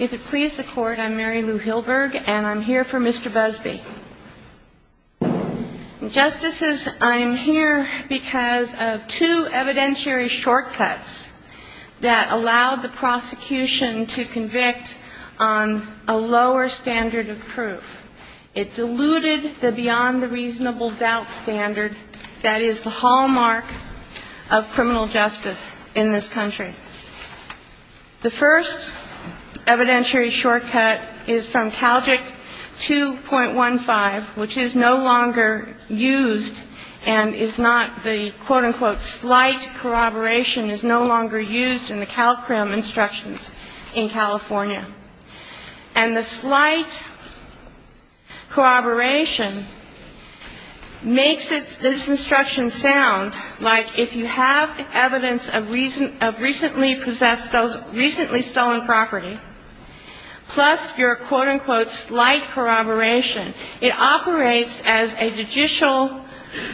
If it please the court, I'm Mary Lou Hilberg, and I'm here for Mr. Busby. Justices, I am here because of two evidentiary shortcuts that allowed the prosecution to convict on a lower standard of proof. It diluted the beyond-the-reasonable-doubt standard that is the hallmark of criminal justice in this country. The first evidentiary shortcut is from CALJIC 2.15, which is no longer used and is not the, quote-unquote, slight corroboration is no longer used in the CALCRIM instructions in California. And the slight corroboration makes this instruction sound like if you have evidence of recently possessed, recently stolen property, plus your, quote-unquote, slight corroboration, it operates as a judicial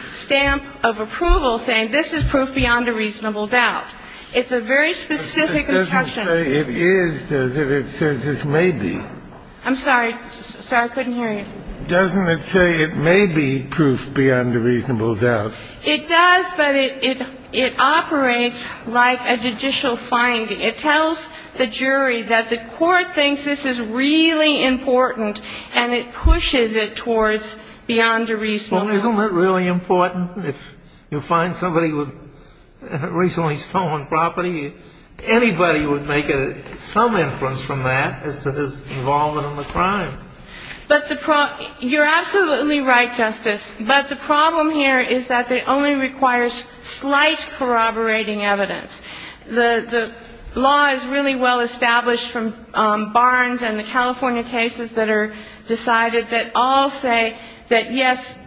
stamp of approval saying this is proof beyond a reasonable doubt. It's a very specific instruction. Kennedy It doesn't say it is, does it? It says it may be. Busby I'm sorry. Sorry, I couldn't hear you. Kennedy Doesn't it say it may be proof beyond a reasonable doubt? Busby It does, but it operates like a judicial finding. It tells the jury that the court thinks this is really important, and it pushes it towards beyond a reasonable doubt. Kennedy Well, isn't that really important? If you find somebody with recently stolen property, anybody would make some inference from that as to his involvement in the crime. Busby You're absolutely right, Justice. But the problem here is that it only requires slight corroborating evidence. The law is really well established from Barnes and the California cases that are decided that all say that, yes,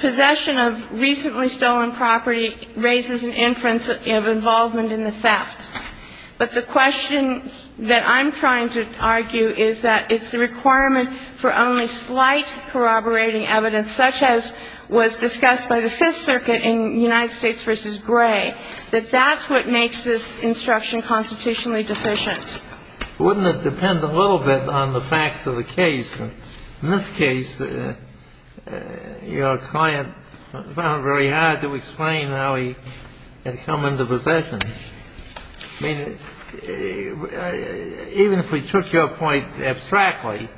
possession of recently stolen property raises an inference of involvement in the theft. But the question that I'm trying to argue is that it's the requirement for only slight corroborating evidence, such as was discussed by the Fifth Circuit in United States v. Gray, that that's what makes this instruction constitutionally deficient. Kennedy Wouldn't it depend a little bit on the facts of the case? In this case, your client found it very hard to explain how he had come into possession. I mean, even if we took your point abstractly,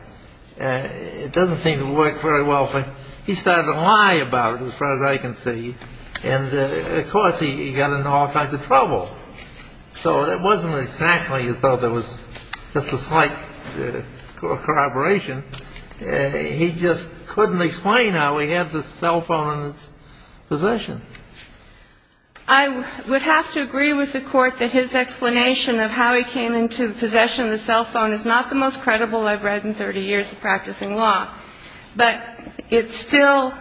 it doesn't seem to work very well for him. He started to lie about it, as far as I can see, and, of course, he got into all kinds of trouble. So it wasn't exactly as though there was just a slight corroboration. He just couldn't explain how he had the cell phone in his possession. I would have to agree with the Court that his explanation of how he came into possession of the cell phone is not the most credible I've read in 30 years of practicing law. But it's still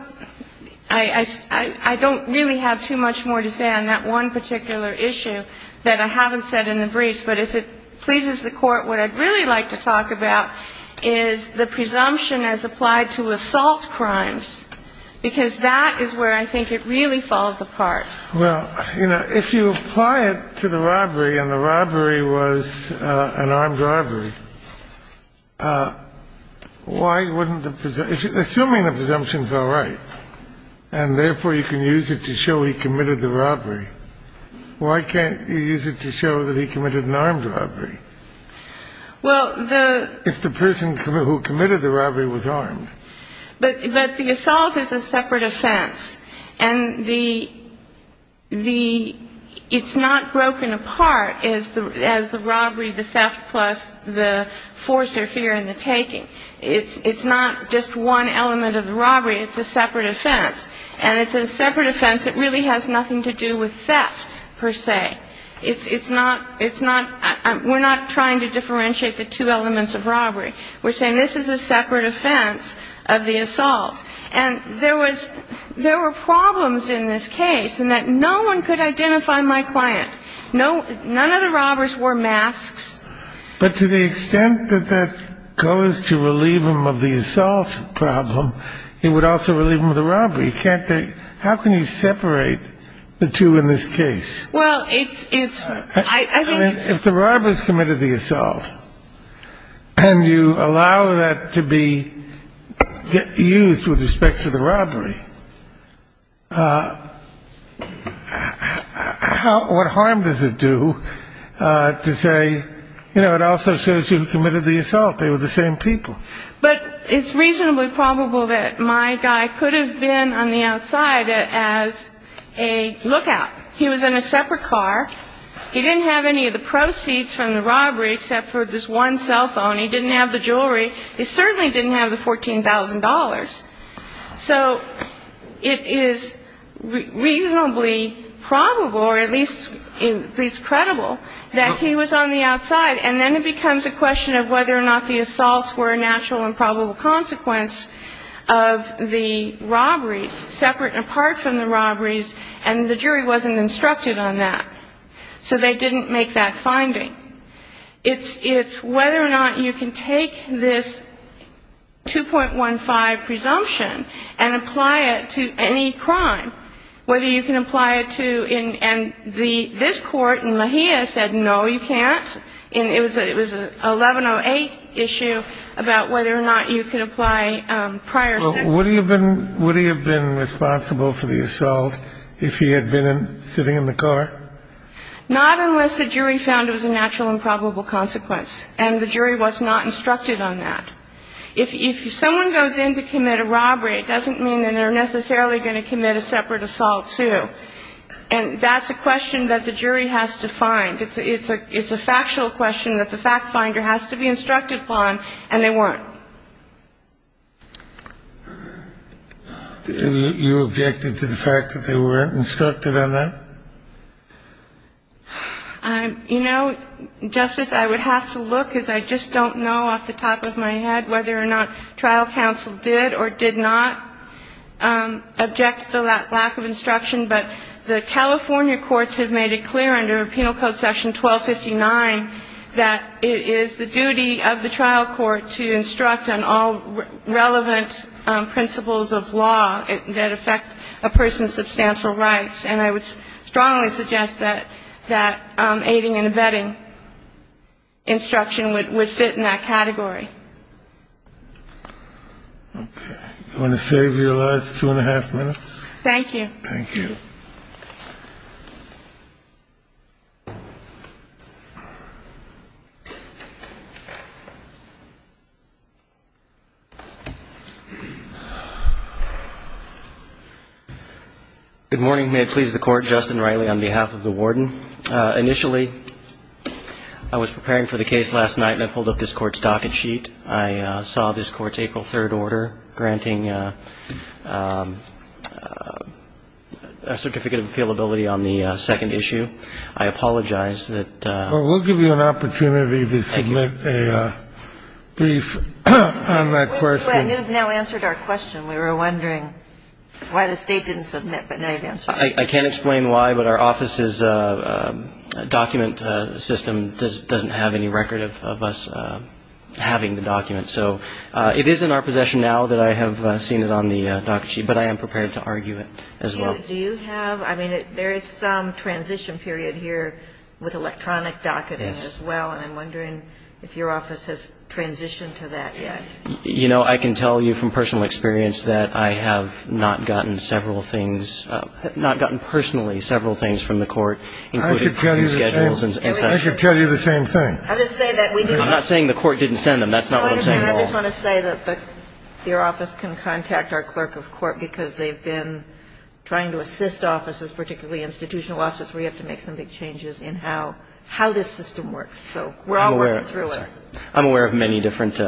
– I don't really have too much more to say on that one particular issue that I haven't said in the briefs. But if it pleases the Court, what I'd really like to talk about is the presumption as applied to assault crimes, because that is where I think it really falls apart. Well, you know, if you apply it to the robbery and the robbery was an armed robbery, why wouldn't the – assuming the presumption's all right and, therefore, you can use it to show he committed the robbery, why can't you use it to show that he committed an armed robbery? Well, the – If the person who committed the robbery was armed. But the assault is a separate offense. And the – it's not broken apart as the robbery, the theft, plus the force or fear and the taking. It's not just one element of the robbery. It's a separate offense. And it's a separate offense that really has nothing to do with theft, per se. It's not – it's not – we're not trying to differentiate the two elements of robbery. We're saying this is a separate offense of the assault. And there was – there were problems in this case in that no one could identify my client. No – none of the robbers wore masks. But to the extent that that goes to relieve him of the assault problem, it would also relieve him of the robbery. Can't they – how can you separate the two in this case? If the robber has committed the assault and you allow that to be used with respect to the robbery, what harm does it do to say, you know, it also shows you committed the assault. They were the same people. But it's reasonably probable that my guy could have been on the outside as a lookout. He was in a separate car. He didn't have any of the proceeds from the robbery except for this one cell phone. He didn't have the jewelry. He certainly didn't have the $14,000. So it is reasonably probable, or at least credible, that he was on the outside. And then it becomes a question of whether or not the assaults were a natural and probable consequence of the robberies, separate and apart from the robberies, and the jury wasn't instructed on that. So they didn't make that finding. It's whether or not you can take this 2.15 presumption and apply it to any crime, whether you can apply it to – and this court in La Jolla said, no, you can't. It was an 1108 issue about whether or not you could apply prior – So would he have been responsible for the assault if he had been sitting in the car? Not unless the jury found it was a natural and probable consequence. And the jury was not instructed on that. If someone goes in to commit a robbery, it doesn't mean that they're necessarily going to commit a separate assault, too. And that's a question that the jury has to find. It's a factual question that the fact finder has to be instructed upon, and they weren't. You objected to the fact that they weren't instructed on that? You know, Justice, I would have to look, because I just don't know off the top of my head whether or not trial counsel did or did not object to the lack of instruction. But the California courts have made it clear under Penal Code Section 1259 that it is the duty of the trial court to instruct on all relevant principles of law that affect a person's substantial rights. And I would strongly suggest that aiding and abetting instruction would fit in that category. Okay. You want to save your last two and a half minutes? Thank you. Thank you. Good morning. May it please the Court. Justin Reilly on behalf of the Warden. Initially, I was preparing for the case last night, and I pulled up this Court's docket sheet. I saw this Court's April 3rd order granting, as I understand it, the defendant's right to remain in the United States. I apologize that I didn't submit a certificate of appealability on the second issue. I apologize that the court is not aware of that. Well, we'll give you an opportunity to submit a brief on that question. We've now answered our question. We were wondering why the State didn't submit. But now you've answered it. I can't explain why, but our office's document system doesn't have any record of us having the document. So it is in our possession now that I have seen it on the docket sheet, but I am prepared to argue it as well. Do you have ‑‑ I mean, there is some transition period here with electronic docketing as well. Yes. And I'm wondering if your office has transitioned to that yet. You know, I can tell you from personal experience that I have not gotten several things, not gotten personally several things from the court, including schedules and such. I can tell you the same thing. I'm not saying the court didn't send them. That's not what I'm saying at all. I just want to say that your office can contact our clerk of court, because they've been trying to assist offices, particularly institutional offices, where you have to make some big changes in how this system works. So we're all working through it. I'm aware of many different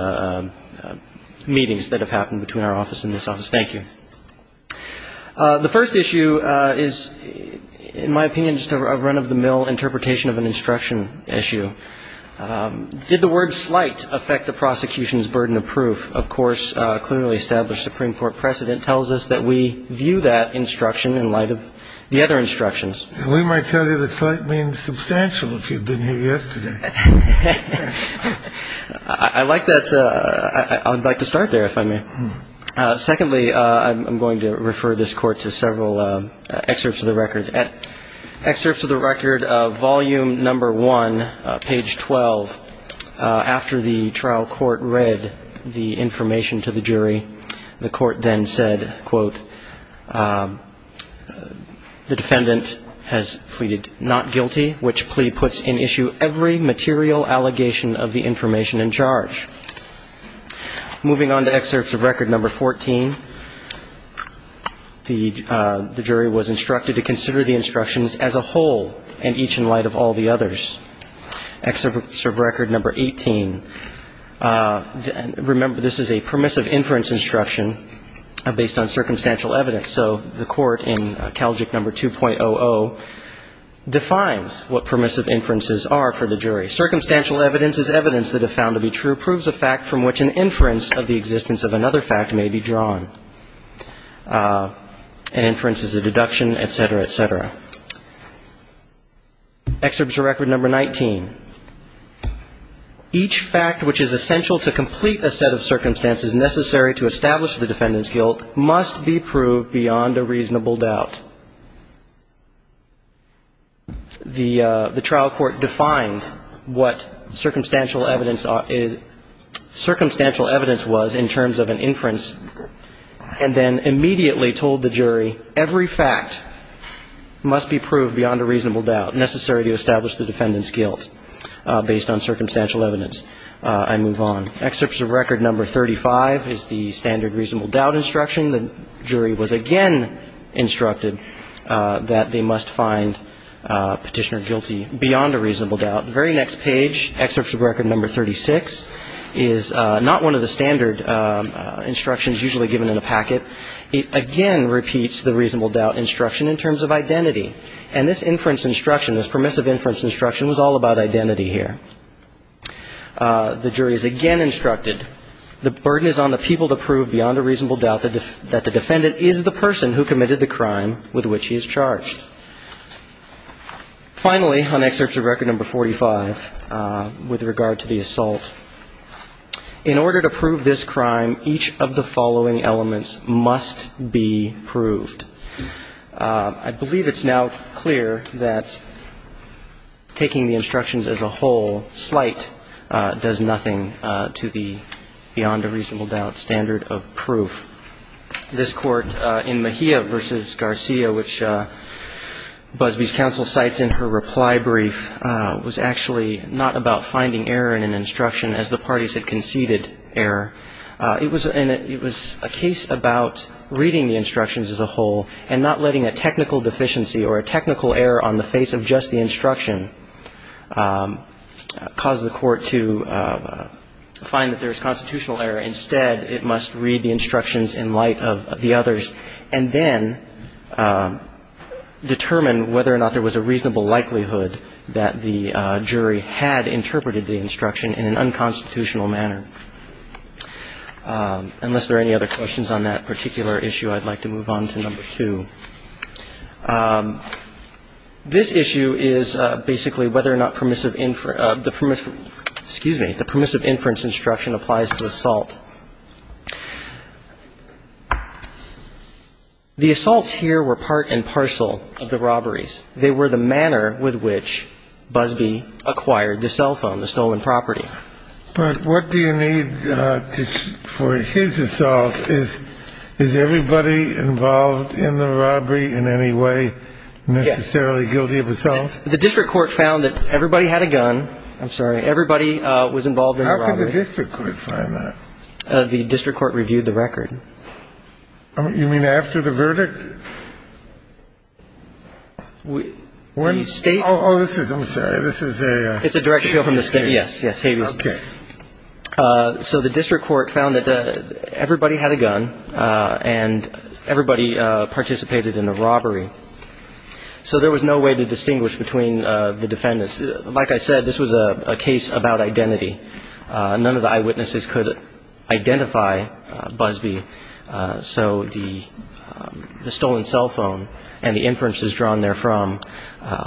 meetings that have happened between our office and this office. Thank you. The first issue is, in my opinion, just a run-of-the-mill interpretation of an instruction issue. Did the word slight affect the prosecution's burden of proof? Of course, a clearly established Supreme Court precedent tells us that we view that instruction in light of the other instructions. We might tell you that slight means substantial if you've been here yesterday. I like that. I would like to start there, if I may. Secondly, I'm going to refer this court to several excerpts of the record. Excerpts of the record of volume number one, page 12. After the trial court read the information to the jury, the court then said, quote, the defendant has pleaded not guilty, which plea puts in issue every material allegation of the information in charge. Moving on to excerpts of record number 14, the jury was instructed to consider the instructions as a whole, and each in light of all the others. Excerpt of record number 18. Remember, this is a permissive inference instruction based on circumstantial evidence. So the court in Calgic number 2.00 defines what permissive inferences are for the jury. Circumstantial evidence is evidence that if found to be true, proves a fact from which an inference of the existence of another fact may be drawn. An inference is a deduction, et cetera, et cetera. Excerpts of record number 19. Each fact which is essential to complete a set of circumstances necessary to establish the defendant's guilt must be proved beyond a reasonable doubt. The trial court defined what circumstantial evidence was in terms of an inference, and then immediately told the jury every fact must be proved beyond a reasonable doubt, necessary to establish the defendant's guilt based on circumstantial evidence. I move on. Excerpts of record number 35 is the standard reasonable doubt instruction. The jury was again instructed that they must find Petitioner guilty beyond a reasonable doubt. The very next page, excerpts of record number 36, is not one of the standard instructions usually given in a packet. It again repeats the reasonable doubt instruction in terms of identity. And this inference instruction, this permissive inference instruction, was all about identity here. The jury is again instructed the burden is on the people to prove beyond a reasonable doubt that the defendant is the person who committed the crime with which he is charged. Finally, on excerpts of record number 45 with regard to the assault, in order to prove this crime, each of the following elements must be proved. I believe it's now clear that taking the instructions as a whole, slight, does nothing to the beyond a reasonable doubt standard of proof. This court in Mejia v. Garcia, which Busbee's counsel cites in her reply brief, was actually not about finding error in an instruction as the parties had conceded error. It was a case about reading the instructions as a whole and not letting a technical deficiency on the face of just the instruction cause the court to find that there is constitutional error. Instead, it must read the instructions in light of the others and then determine whether or not there was a reasonable likelihood that the jury had interpreted the instruction in an unconstitutional manner. Unless there are any other questions on that particular issue, I'd like to move on to number two. This issue is basically whether or not permissive, excuse me, the permissive inference instruction applies to assault. The assaults here were part and parcel of the robberies. They were the manner with which Busbee acquired the cell phone, the stolen property. But what do you need for his assault? Is everybody involved in the robbery in any way necessarily guilty of assault? The district court found that everybody had a gun. I'm sorry. Everybody was involved in the robbery. How could the district court find that? The district court reviewed the record. You mean after the verdict? The State. Oh, this is ‑‑ I'm sorry. This is a ‑‑ It's a direct appeal from the State. Yes, yes. Okay. So the district court found that everybody had a gun and everybody participated in the robbery. So there was no way to distinguish between the defendants. Like I said, this was a case about identity. None of the eyewitnesses could identify Busbee. So the stolen cell phone and the inferences drawn therefrom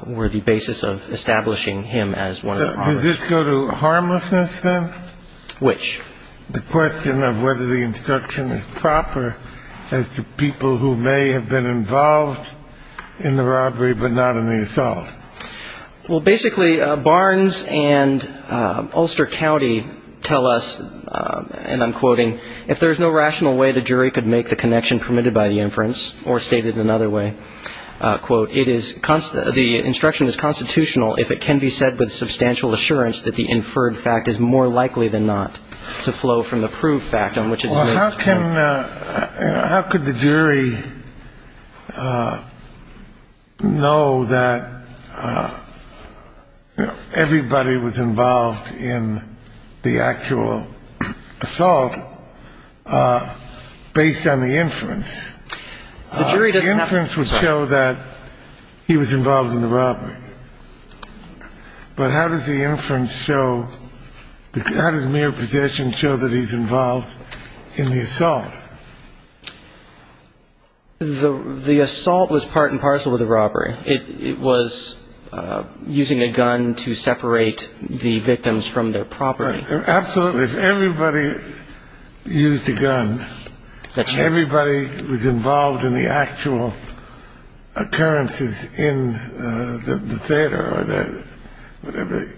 were the basis of establishing him as one of the robbers. Does this go to harmlessness, then? Which? The question of whether the instruction is proper as to people who may have been involved in the robbery but not in the assault. Well, basically, Barnes and Ulster County tell us, and I'm quoting, if there is no rational way the jury could make the connection permitted by the inference, or stated another way, quote, the instruction is constitutional if it can be said with substantial assurance that the inferred fact is more likely than not to flow from the proved fact on which it's made. Well, how can ‑‑ how could the jury know that, you know, everybody was involved in the actual assault based on the inference? The jury doesn't have to decide. The inference would show that he was involved in the robbery. But how does the inference show ‑‑ how does mere possession show that he's involved in the assault? The assault was part and parcel with the robbery. It was using a gun to separate the victims from their property. Absolutely. If everybody used a gun and everybody was involved in the actual occurrences in the theater or the whatever,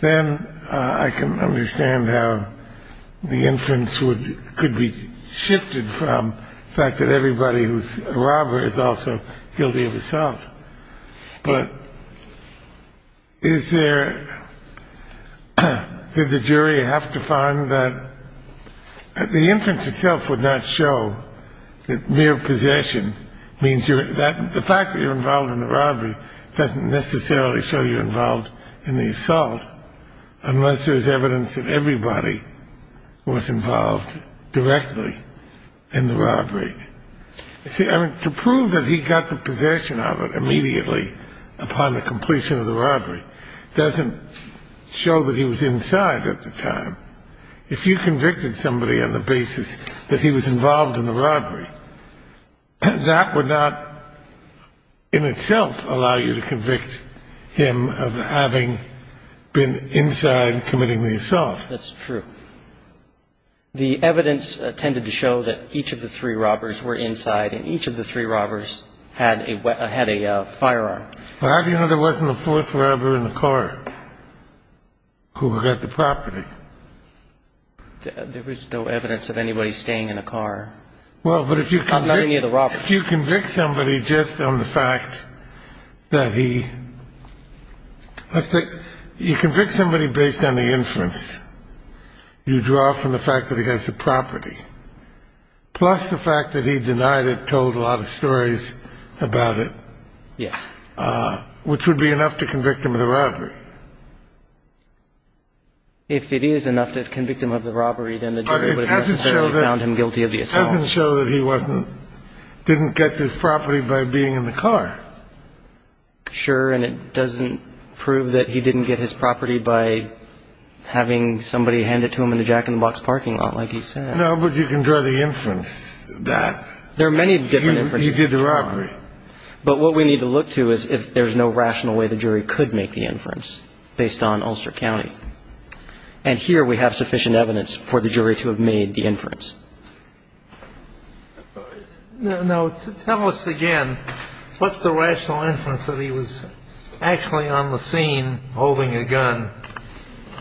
then I can understand how the inference could be shifted from the fact that everybody who's a robber is also guilty of assault. But is there ‑‑ did the jury have to find that the inference itself would not show that mere possession means you're ‑‑ the fact that you're involved in the robbery doesn't necessarily show you're involved in the assault unless there's evidence that everybody was involved directly in the robbery. I mean, to prove that he got the possession of it immediately upon the completion of the robbery doesn't show that he was inside at the time. If you convicted somebody on the basis that he was involved in the robbery, that would not in itself allow you to convict him of having been inside committing the assault. That's true. The evidence tended to show that each of the three robbers were inside and each of the three robbers had a firearm. But how do you know there wasn't a fourth robber in the car who got the property? There was no evidence of anybody staying in a car. Well, but if you convict somebody just on the fact that he ‑‑ you draw from the fact that he has the property. Plus the fact that he denied it, told a lot of stories about it. Yeah. Which would be enough to convict him of the robbery. If it is enough to convict him of the robbery, then the jury would have necessarily found him guilty of the assault. But it doesn't show that he wasn't ‑‑ didn't get his property by being in the car. Sure. And it doesn't prove that he didn't get his property by having somebody hand it to him in the jack‑in‑the‑box parking lot, like he said. No, but you can draw the inference that he did the robbery. There are many different inferences. But what we need to look to is if there's no rational way the jury could make the inference based on Ulster County. And here we have sufficient evidence for the jury to have made the inference. Now, tell us again, what's the rational inference that he was actually on the scene holding a gun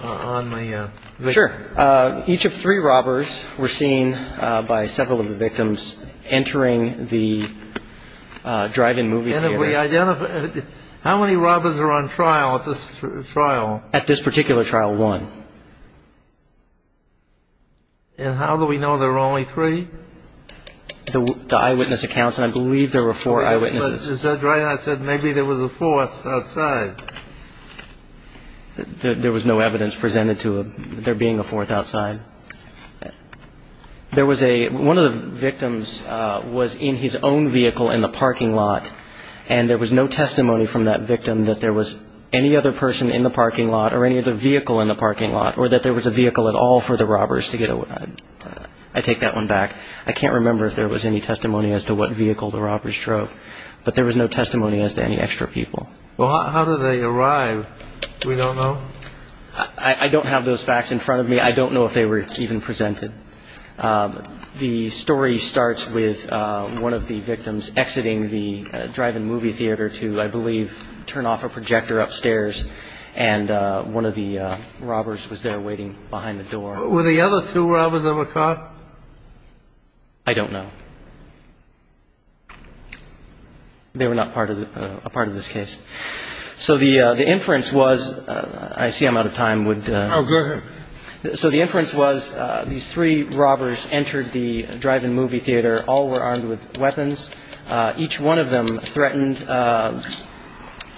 on the victim? Sure. Each of three robbers were seen by several of the victims entering the drive‑in movie theater. How many robbers are on trial at this trial? At this particular trial, one. And how do we know there were only three? The eyewitness accounts, and I believe there were four eyewitnesses. But Judge Reinhart said maybe there was a fourth outside. There was no evidence presented to him there being a fourth outside. There was a ‑‑ one of the victims was in his own vehicle in the parking lot, and there was no testimony from that victim that there was any other person in the parking lot or any other vehicle in the parking lot or that there was a vehicle at all for the robbers to get away. I take that one back. I can't remember if there was any testimony as to what vehicle the robbers drove. But there was no testimony as to any extra people. Well, how did they arrive? We don't know? I don't have those facts in front of me. I don't know if they were even presented. The story starts with one of the victims exiting the drive-in movie theater to, I believe, turn off a projector upstairs, and one of the robbers was there waiting behind the door. Were the other two robbers ever caught? I don't know. They were not part of this case. So the inference was ‑‑ I see I'm out of time. Oh, go ahead. So the inference was these three robbers entered the drive-in movie theater. All were armed with weapons. Each one of them threatened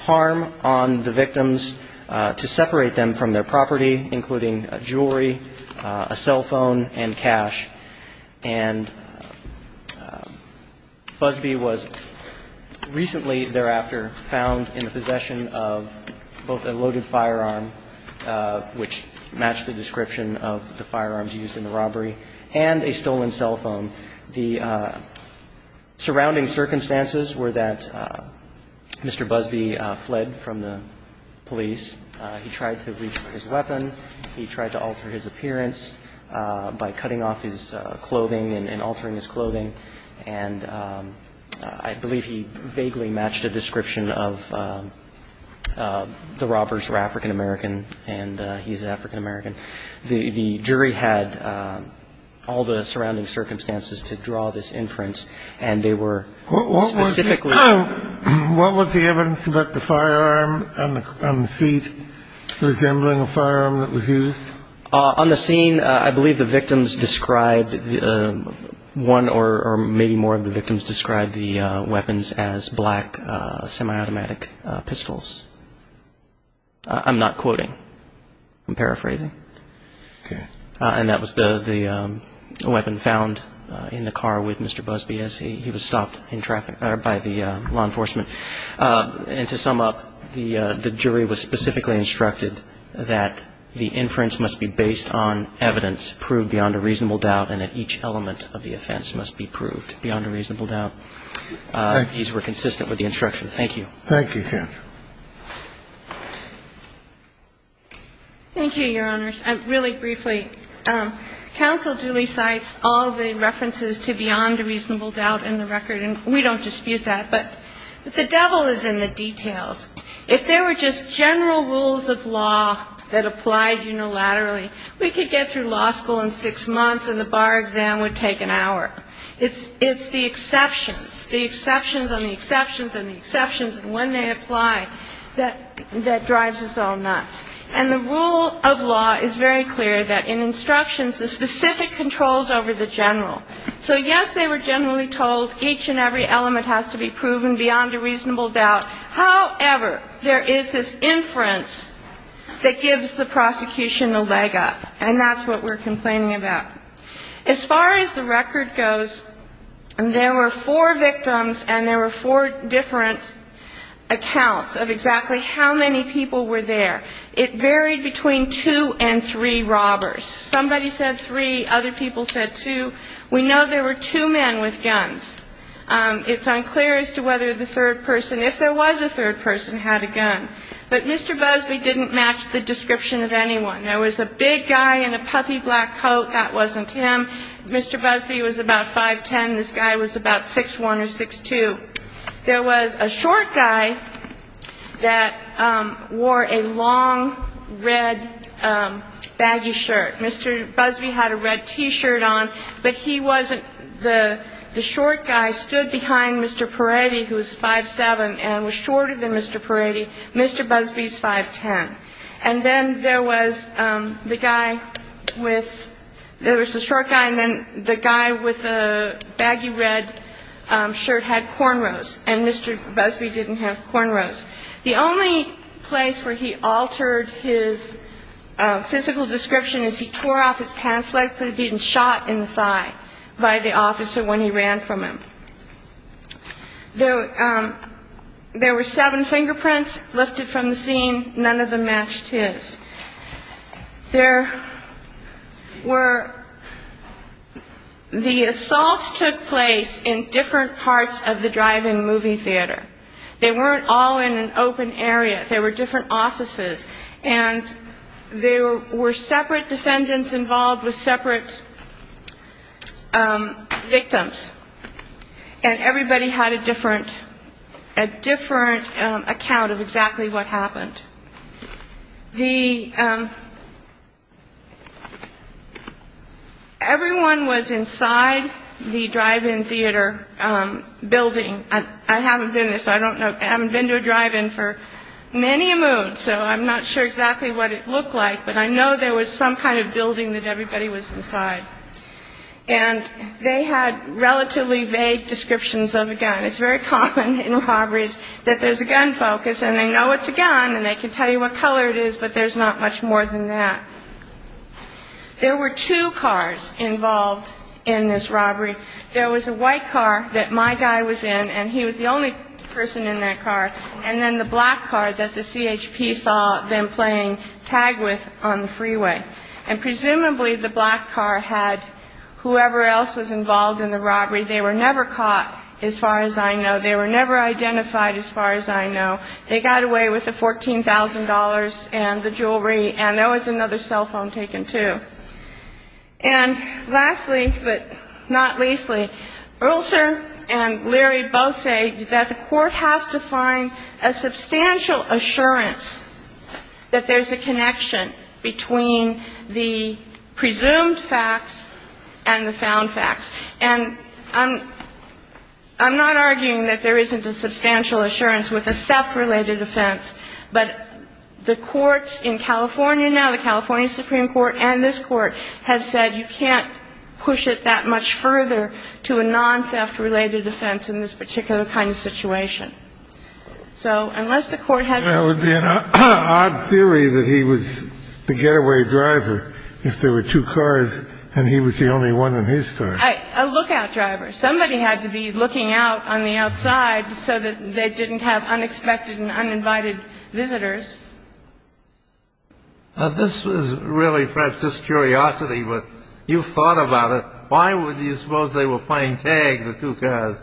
harm on the victims to separate them from their property, including jewelry, a cell phone, and cash. And Busby was recently thereafter found in the possession of both a loaded firearm, which matched the description of the firearms used in the robbery, and a stolen cell phone. The surrounding circumstances were that Mr. Busby fled from the police. He tried to reach for his weapon. He tried to alter his appearance by cutting off his clothing and altering his clothing. And I believe he vaguely matched a description of the robbers were African American, and he's African American. The jury had all the surrounding circumstances to draw this inference, and they were specifically ‑‑ What was the evidence about the firearm on the seat resembling a firearm that was used? On the scene, I believe the victims described one or maybe more of the victims described the weapons as black semiautomatic pistols. I'm not quoting. I'm paraphrasing. Okay. And that was the weapon found in the car with Mr. Busby as he was stopped by the law enforcement. And to sum up, the jury was specifically instructed that the inference must be based on evidence proved beyond a reasonable doubt and that each element of the offense must be proved beyond a reasonable doubt. Thank you. These were consistent with the instruction. Thank you. Thank you, Judge. Thank you, Your Honors. Really briefly, counsel duly cites all the references to beyond a reasonable doubt in the record, and we don't dispute that. But the devil is in the details. If there were just general rules of law that applied unilaterally, we could get through law school in six months and the bar exam would take an hour. It's the exceptions, the exceptions on the exceptions on the exceptions, and when they apply that drives us all nuts. And the rule of law is very clear that in instructions, the specific controls over the general. So, yes, they were generally told each and every element has to be proven beyond a reasonable doubt. However, there is this inference that gives the prosecution a leg up, and that's what we're complaining about. As far as the record goes, there were four victims and there were four different accounts of exactly how many people were there. It varied between two and three robbers. Somebody said three. Other people said two. We know there were two men with guns. It's unclear as to whether the third person, if there was a third person, had a gun. But Mr. Busby didn't match the description of anyone. There was a big guy in a puffy black coat. That wasn't him. Mr. Busby was about 5'10". This guy was about 6'1 or 6'2". There was a short guy that wore a long red baggy shirt. Mr. Busby had a red T-shirt on, but he wasn't the short guy stood behind Mr. Peretti, who was 5'7", and was shorter than Mr. Peretti. Mr. Busby's 5'10". And then there was the short guy and then the guy with the baggy red shirt had cornrows, and Mr. Busby didn't have cornrows. The only place where he altered his physical description is he tore off his pants like they had been shot in the thigh by the officer when he ran from him. There were seven fingerprints lifted from the scene. None of them matched his. The assaults took place in different parts of the drive-in movie theater. They weren't all in an open area. They were different offices. And there were separate defendants involved with separate victims. And everybody had a different account of exactly what happened. Everyone was inside the drive-in theater building. I haven't been to a drive-in for many moons, so I'm not sure exactly what it looked like, but I know there was some kind of building that everybody was inside. And they had relatively vague descriptions of a gun. It's very common in robberies that there's a gun focus, and they know it's a gun, and they can tell you what color it is, but there's not much more than that. There were two cars involved in this robbery. There was a white car that my guy was in, and he was the only person in that car, and then the black car that the CHP saw them playing tag with on the freeway. And presumably the black car had whoever else was involved in the robbery. They were never caught, as far as I know. They were never identified, as far as I know. They got away with the $14,000 and the jewelry, and there was another cell phone taken, too. And lastly, but not leastly, Urlser and Leary both say that the court has to find a substantial assurance that there's a connection between the presumed facts and the found facts. And I'm not arguing that there isn't a substantial assurance with a theft-related offense, but the courts in California now, the California Supreme Court and this Court, have said you can't push it that much further to a non-theft-related offense in this particular kind of situation. So unless the court has to... That would be an odd theory that he was the getaway driver if there were two cars and he was the only one in his car. A lookout driver. Somebody had to be looking out on the outside so that they didn't have unexpected and uninvited visitors. This was really perhaps just curiosity, but you thought about it. Why would you suppose they were playing tag, the two cars?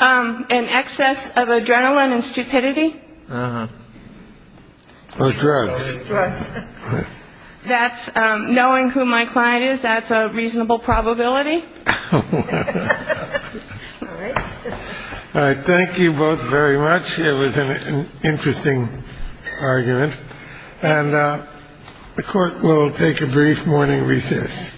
An excess of adrenaline and stupidity. Or drugs. Drugs. Knowing who my client is, that's a reasonable probability. All right. All right. Thank you both very much. It was an interesting argument. And the court will take a brief morning recess.